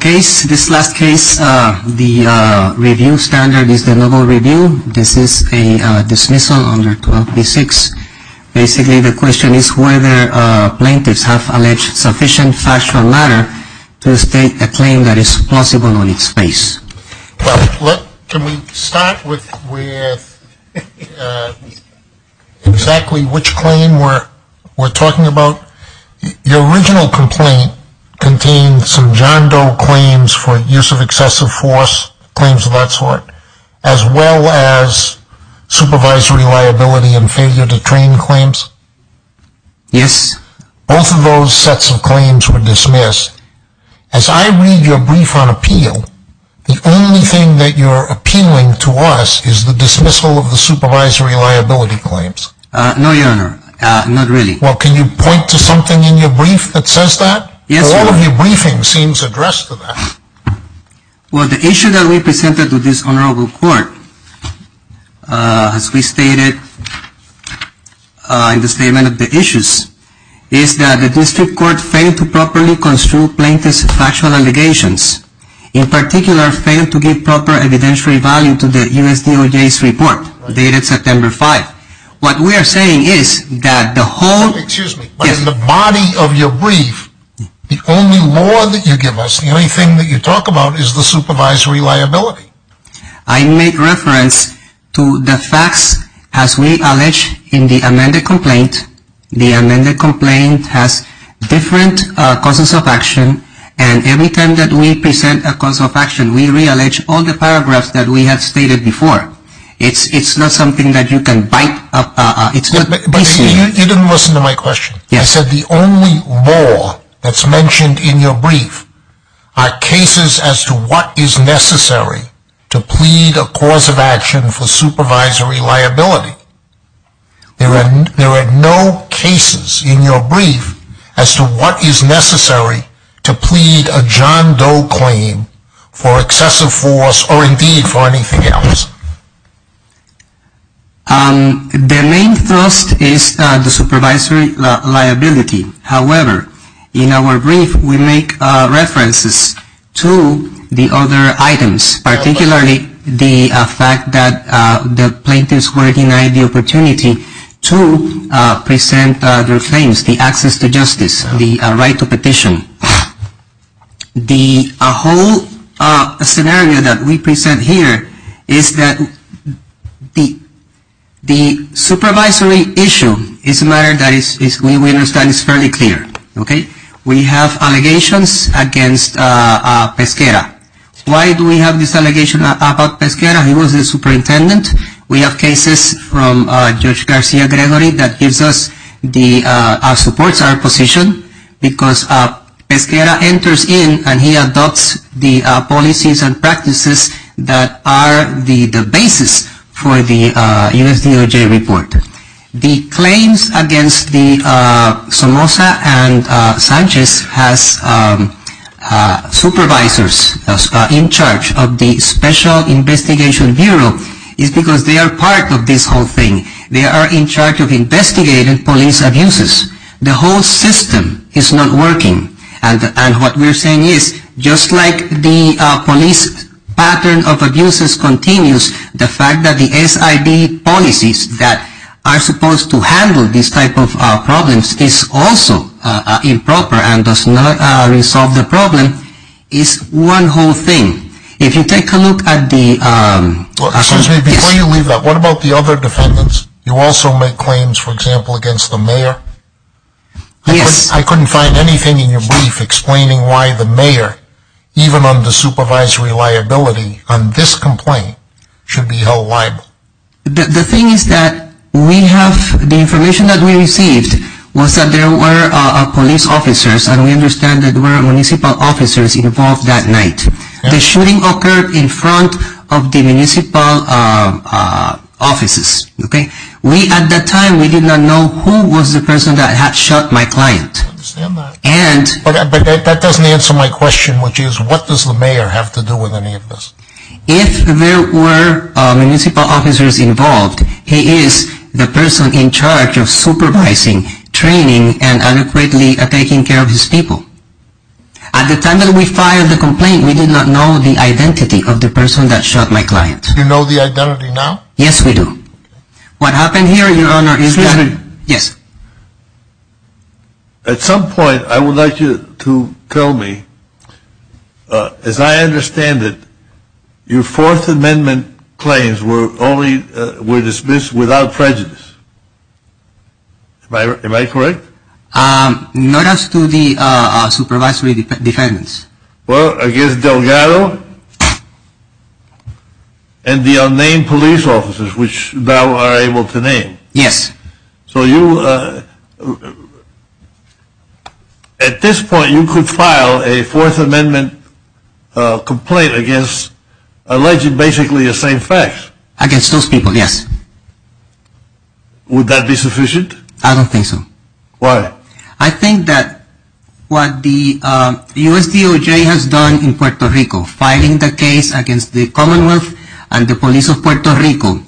This last case, the review standard is the Noble Review. This is a dismissal under 12b-6. Basically the question is whether plaintiffs have alleged sufficient factual matter to state a claim that is plausible on its face. Can we start with exactly which claim we're talking about? Your original complaint contained some John Doe claims for use of excessive force, claims of that sort, as well as supervisory liability and failure to train claims. Yes. Both of those sets of claims were dismissed. As I read your brief on appeal, the only thing that you're appealing to us is the dismissal of the supervisory liability claims. No, Your Honor. Not really. Well, can you point to something in your brief that says that? Yes, Your Honor. All of your briefing seems addressed to that. Well, the issue that we presented to this Honorable Court, as we stated in the statement of the issues, is that the District Court failed to properly construe plaintiffs' factual allegations. In particular, failed to give proper evidentiary value to the USDA's report, dated September 5. What we are saying is that the whole... I make reference to the facts as we allege in the amended complaint. The amended complaint has different causes of action, and every time that we present a cause of action, we reallege all the paragraphs that we have stated before. It's not something that you can bite... You didn't listen to my question. Yes. I said the only law that's mentioned in your brief are cases as to what is necessary to plead a cause of action for supervisory liability. There are no cases in your brief as to what is necessary to plead a John Doe claim for excessive force, or indeed for anything else. The main thrust is the supervisory liability. However, in our brief, we make references to the other items, particularly the fact that the plaintiffs were denied the opportunity to present their claims, the access to justice, the right to petition. The whole scenario that we present here is that the supervisory issue is a matter that we understand is fairly clear. We have allegations against Pesquera. Why do we have this allegation about Pesquera? He was the superintendent. We have cases from Judge Garcia-Gregory that supports our position because Pesquera enters in and he adopts the policies and practices that are the basis for the U.S. DOJ report. The claims against Somoza and Sanchez as supervisors in charge of the Special Investigation Bureau is because they are part of this whole thing. They are in charge of investigating police abuses. The whole system is not working. What we're saying is, just like the police pattern of abuses continues, the fact that the SID policies that are supposed to handle these types of problems is also improper and does not resolve the problem is one whole thing. If you take a look at the… Excuse me, before you leave that, what about the other defendants? You also make claims, for example, against the mayor? Yes. I couldn't find anything in your brief explaining why the mayor, even on the supervisory liability on this complaint, should be held liable. The thing is that the information that we received was that there were police officers and we understand that there were municipal officers involved that night. The shooting occurred in front of the municipal offices. At that time, we did not know who was the person that had shot my client. I understand that. But that doesn't answer my question, which is, what does the mayor have to do with any of this? If there were municipal officers involved, he is the person in charge of supervising, training, and adequately taking care of his people. At the time that we filed the complaint, we did not know the identity of the person that shot my client. Do you know the identity now? Yes, we do. What happened here, Your Honor, is that... Excuse me. Yes. At some point, I would like you to tell me, as I understand it, your Fourth Amendment claims were dismissed without prejudice. Am I correct? Not as to the supervisory defendants. Well, against Delgado and the unnamed police officers, which thou are able to name. Yes. So you... At this point, you could file a Fourth Amendment complaint against alleged basically the same facts. Against those people, yes. Would that be sufficient? I don't think so. Why? Well, I think that what the USDOJ has done in Puerto Rico, filing the case against the Commonwealth and the police of Puerto Rico,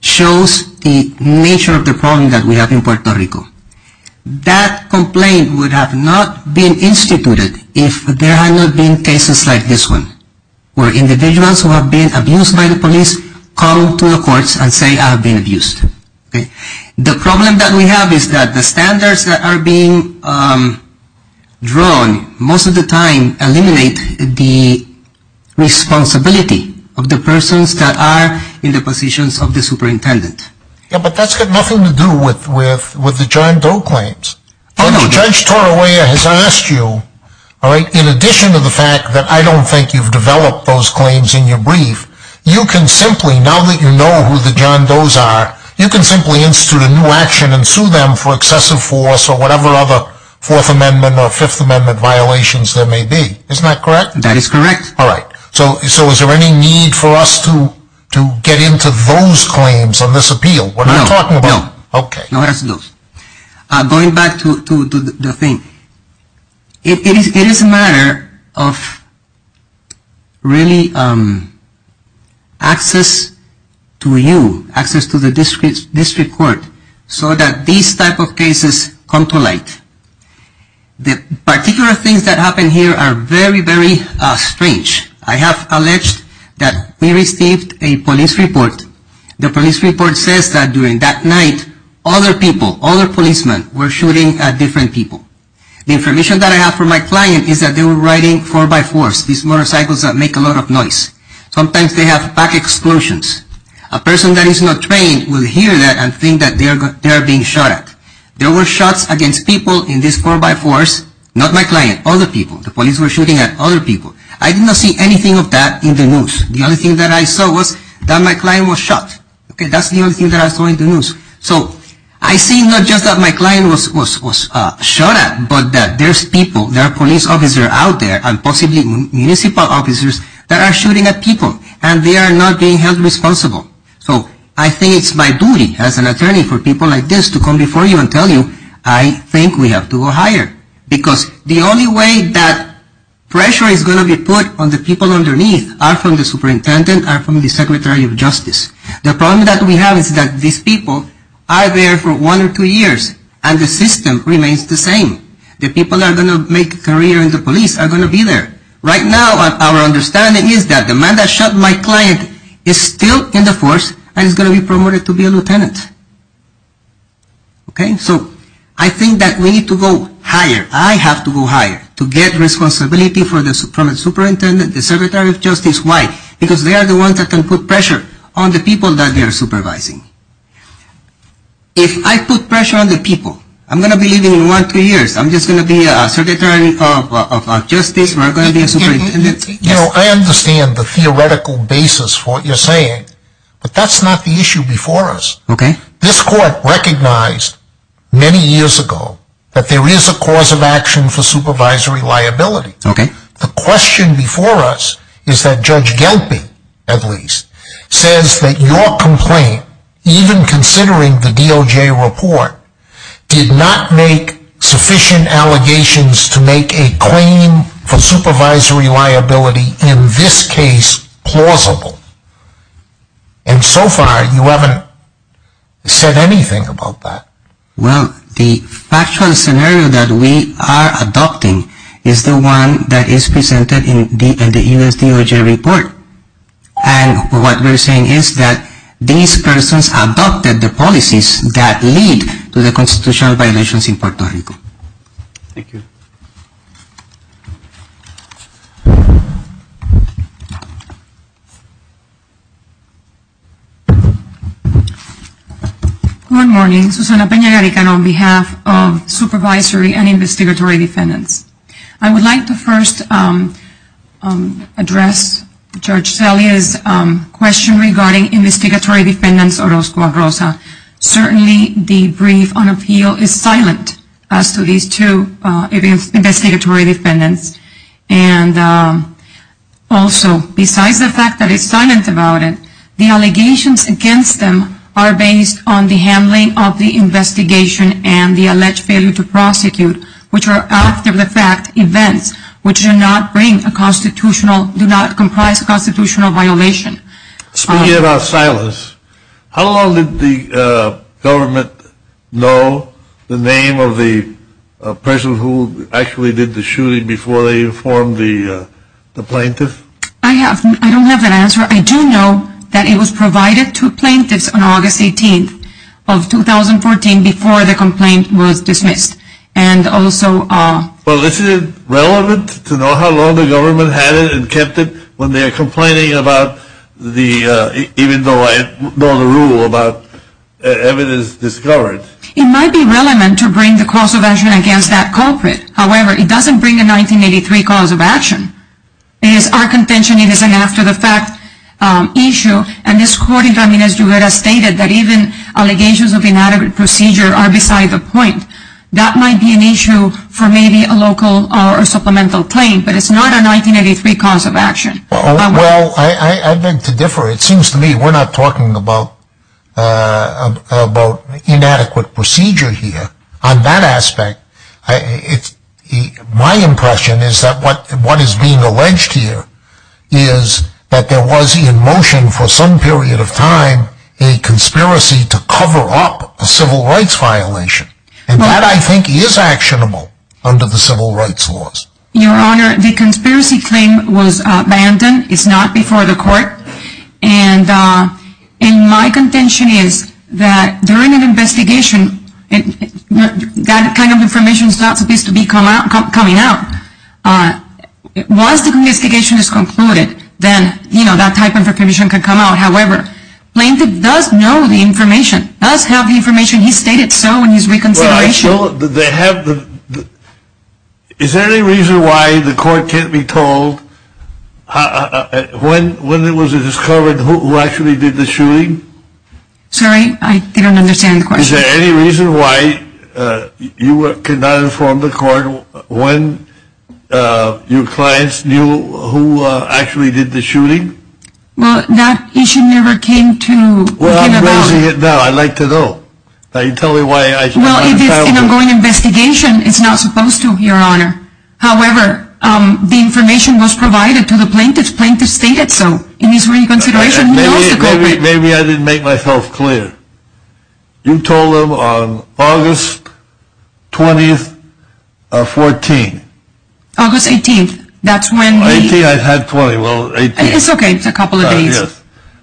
shows the nature of the problem that we have in Puerto Rico. That complaint would have not been instituted if there had not been cases like this one, where individuals who have been abused by the police come to the courts and say, I have been abused. The problem that we have is that the standards that are being drawn, most of the time, eliminate the responsibility of the persons that are in the positions of the superintendent. Yes, but that's got nothing to do with the John Doe claims. Judge Torrella has asked you, in addition to the fact that I don't think you've developed those claims in your brief, you can simply, now that you know who the John Doe's are, you can simply institute a new action and sue them for excessive force or whatever other Fourth Amendment or Fifth Amendment violations there may be. Isn't that correct? That is correct. All right. So is there any need for us to get into those claims on this appeal? No. Okay. Going back to the thing, it is a matter of really access to you, access to the district court, so that these type of cases come to light. The particular things that happen here are very, very strange. I have alleged that we received a police report. The police report says that during that night, other people, other policemen were shooting at different people. The information that I have for my client is that they were riding four-by-fours, these motorcycles that make a lot of noise. Sometimes they have back explosions. A person that is not trained will hear that and think that they are being shot at. There were shots against people in this four-by-fours, not my client, other people. The police were shooting at other people. I did not see anything of that in the news. The only thing that I saw was that my client was shot. That's the only thing that I saw in the news. So I see not just that my client was shot at, but that there's people, there are police officers out there and possibly municipal officers that are shooting at people, and they are not being held responsible. So I think it's my duty as an attorney for people like this to come before you and tell you, I think we have to go higher, because the only way that pressure is going to be put on the people underneath are from the superintendent, are from the secretary of justice. The problem that we have is that these people are there for one or two years, and the system remains the same. The people that are going to make a career in the police are going to be there. Right now, our understanding is that the man that shot my client is still in the force and is going to be promoted to be a lieutenant. Okay? So I think that we need to go higher. I have to go higher to get responsibility from the superintendent, the secretary of justice. Why? Because they are the ones that can put pressure on the people that they are supervising. If I put pressure on the people, I'm going to be leaving in one or two years. I'm just going to be a secretary of justice. We're going to be a superintendent. I understand the theoretical basis for what you're saying, but that's not the issue before us. Okay. This court recognized many years ago that there is a cause of action for supervisory liability. Okay. The question before us is that Judge Gelpin, at least, says that your complaint, even considering the DOJ report, did not make sufficient allegations to make a claim for supervisory liability, in this case, plausible. And so far, you haven't said anything about that. Well, the factual scenario that we are adopting is the one that is presented in the U.S. DOJ report. And what we're saying is that these persons adopted the policies that lead to the constitutional violations in Puerto Rico. Thank you. Good morning. Susana Peña-Yarican on behalf of Supervisory and Investigatory Defendants. I would like to first address Judge Salia's question regarding Investigatory Defendants Orozco Arroza. Certainly, the brief on appeal is silent as to these two Investigatory Defendants. And also, besides the fact that it's silent about it, the allegations against them are based on the handling of the investigation and the alleged failure to prosecute, which are, after the fact, events, which do not bring a constitutional, do not comprise a constitutional violation. Speaking of silence, how long did the government know the name of the person who actually did the shooting before they informed the plaintiff? I don't have an answer. I do know that it was provided to plaintiffs on August 18th of 2014 before the complaint was dismissed. And also – Well, isn't it relevant to know how long the government had it and kept it when they're complaining about the – even though I know the rule about evidence discovered? It might be relevant to bring the cause of action against that culprit. However, it doesn't bring a 1983 cause of action. It is our contention it is an after-the-fact issue. And this court, as you had stated, that even allegations of inadequate procedure are beside the point. That might be an issue for maybe a local or supplemental claim, but it's not a 1983 cause of action. Well, I beg to differ. It seems to me we're not talking about inadequate procedure here. On that aspect, my impression is that what is being alleged here is that there was in motion for some period of time a conspiracy to cover up a civil rights violation. And that, I think, is actionable under the civil rights laws. Your Honor, the conspiracy claim was abandoned. It's not before the court. And my contention is that during an investigation, that kind of information is not supposed to be coming out. Once the investigation is concluded, then that type of information can come out. However, Plaintiff does know the information, does have the information. He stated so in his reconsideration. Well, is there any reason why the court can't be told when it was discovered who actually did the shooting? Sorry, I don't understand the question. Is there any reason why you cannot inform the court when your clients knew who actually did the shooting? Well, that issue never came to the court. Well, I'm raising it now. I'd like to know. Well, if it's an ongoing investigation, it's not supposed to, Your Honor. However, the information was provided to the Plaintiff. Plaintiff stated so in his reconsideration. Maybe I didn't make myself clear. You told them on August 20th of 2014. August 18th. 18th, I had 20. It's okay. It's a couple of days.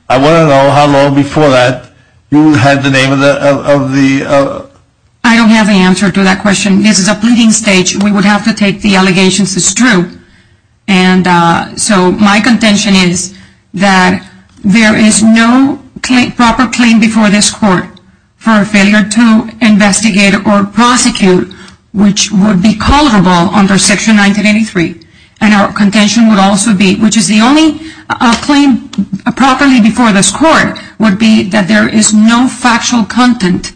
I want to know how long before that you had the name of the... I don't have the answer to that question. This is a pleading stage. We would have to take the allegations as true. And so my contention is that there is no proper claim before this court for a failure to investigate or prosecute, which would be culpable under Section 1983. And our contention would also be, which is the only claim properly before this court, would be that there is no factual content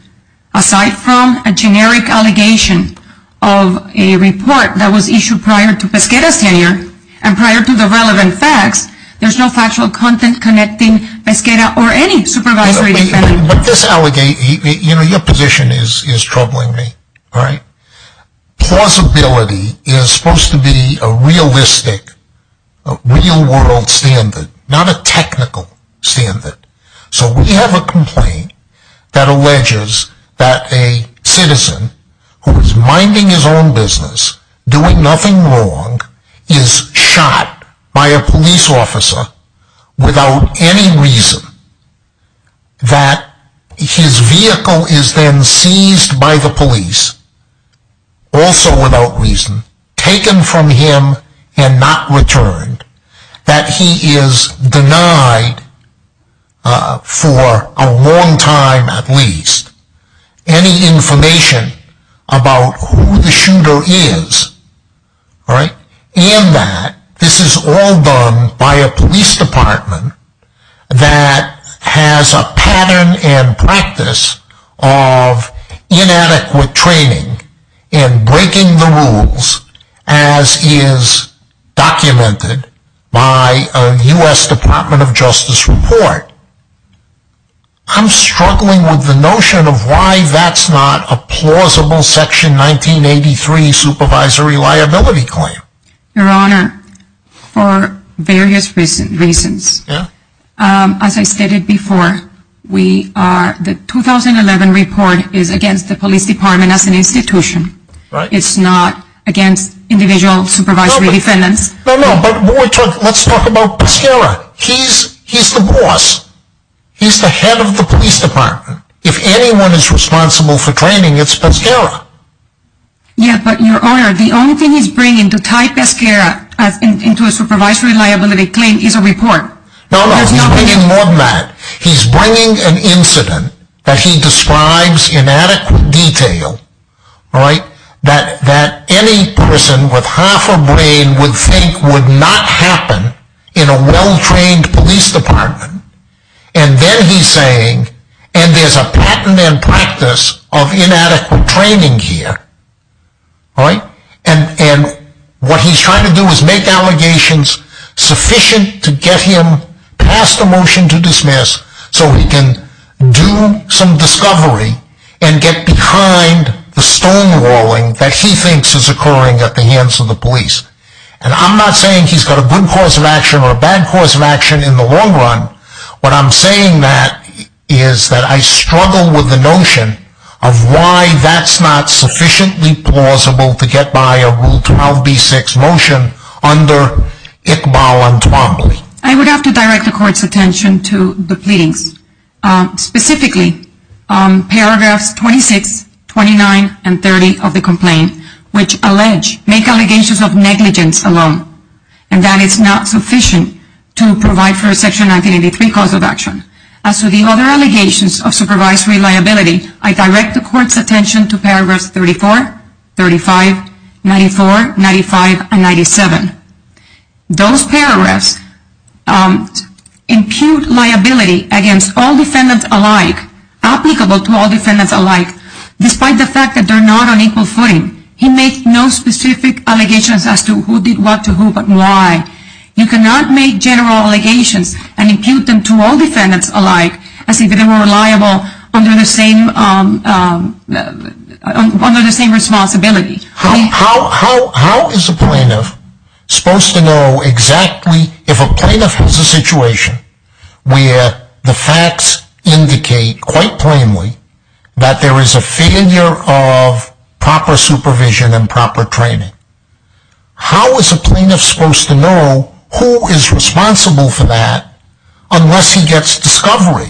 aside from a generic allegation of a report that was issued prior to Pesquera's tenure and prior to the relevant facts. There's no factual content connecting Pesquera or any supervisory defendant. But this allegation, you know, your position is troubling me, right? Plausibility is supposed to be a realistic, real-world standard, not a technical standard. So we have a complaint that alleges that a citizen who is minding his own business, doing nothing wrong, is shot by a police officer without any reason. That his vehicle is then seized by the police, also without reason, taken from him and not returned. That he is denied, for a long time at least, any information about who the shooter is. And that this is all done by a police department that has a pattern and practice of inadequate training in breaking the rules as is documented by a US Department of Justice report. I'm struggling with the notion of why that's not a plausible Section 1983 supervisory liability claim. Your Honor, for various reasons, as I stated before, the 2011 report is against the police department as an institution. It's not against individual supervisory defendants. No, no, but let's talk about Pescara. He's the boss. He's the head of the police department. If anyone is responsible for training, it's Pescara. Yeah, but Your Honor, the only thing he's bringing to tie Pescara into a supervisory liability claim is a report. No, no, he's bringing more than that. He's bringing an incident that he describes in adequate detail. That any person with half a brain would think would not happen in a well-trained police department. And then he's saying, and there's a pattern and practice of inadequate training here. And what he's trying to do is make allegations sufficient to get him past the motion to dismiss so he can do some discovery and get behind the stonewalling that he thinks is occurring at the hands of the police. And I'm not saying he's got a good cause of action or a bad cause of action in the long run. What I'm saying is that I struggle with the notion of why that's not sufficiently plausible to get by a Rule 12b-6 motion under Iqbal and Twombly. I would have to direct the Court's attention to the pleadings. Specifically, paragraphs 26, 29, and 30 of the complaint, which allege, make allegations of negligence alone. And that it's not sufficient to provide for a Section 1983 cause of action. As to the other allegations of supervisory liability, I direct the Court's attention to paragraphs 34, 35, 94, 95, and 97. Those paragraphs impute liability against all defendants alike, applicable to all defendants alike, despite the fact that they're not on equal footing. He makes no specific allegations as to who did what to who, but why. You cannot make general allegations and impute them to all defendants alike as if they were reliable under the same responsibility. How is a plaintiff supposed to know exactly if a plaintiff has a situation where the facts indicate quite plainly that there is a failure of proper supervision and proper training? How is a plaintiff supposed to know who is responsible for that unless he gets discovery?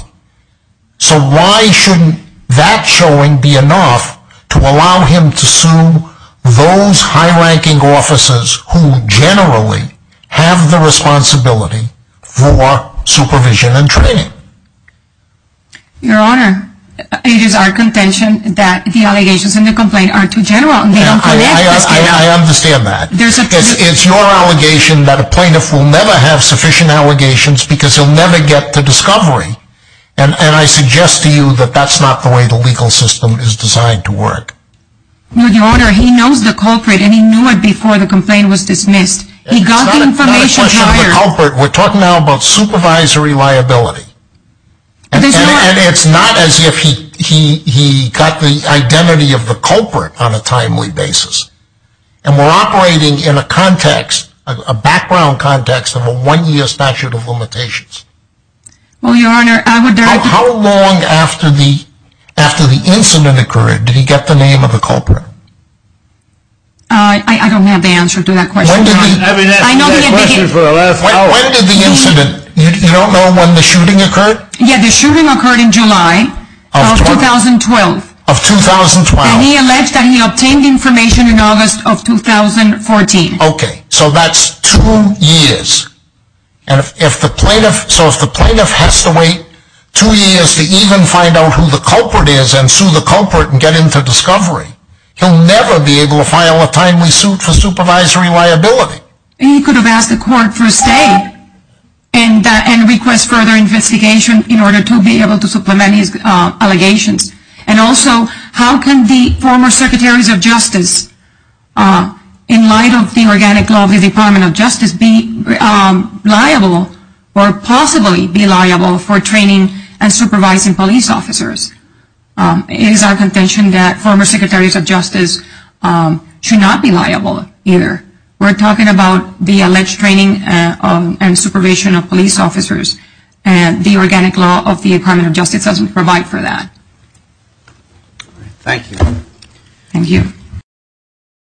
So why shouldn't that showing be enough to allow him to sue those high-ranking officers who generally have the responsibility for supervision and training? Your Honor, it is our contention that the allegations in the complaint are too general. I understand that. It's your allegation that a plaintiff will never have sufficient allegations because he'll never get to discovery. And I suggest to you that that's not the way the legal system is designed to work. Your Honor, he knows the culprit and he knew it before the complaint was dismissed. It's not a question of the culprit. We're talking now about supervisory liability. And it's not as if he got the identity of the culprit on a timely basis. And we're operating in a context, a background context, of a one-year statute of limitations. Well, Your Honor, I would... How long after the incident occurred did he get the name of the culprit? I don't have the answer to that question. When did the incident... You don't know when the shooting occurred? Yeah, the shooting occurred in July of 2012. Of 2012. And he alleged that he obtained information in August of 2014. Okay, so that's two years. So if the plaintiff has to wait two years to even find out who the culprit is and sue the culprit and get him to discovery, he'll never be able to file a timely suit for supervisory liability. He could have asked the court for a stay and request further investigation in order to be able to supplement his allegations. And also, how can the former Secretaries of Justice, in light of the organic law of the Department of Justice, be liable or possibly be liable for training and supervising police officers? It is our contention that former Secretaries of Justice should not be liable either. We're talking about the alleged training and supervision of police officers. The organic law of the Department of Justice doesn't provide for that. Thank you. Thank you.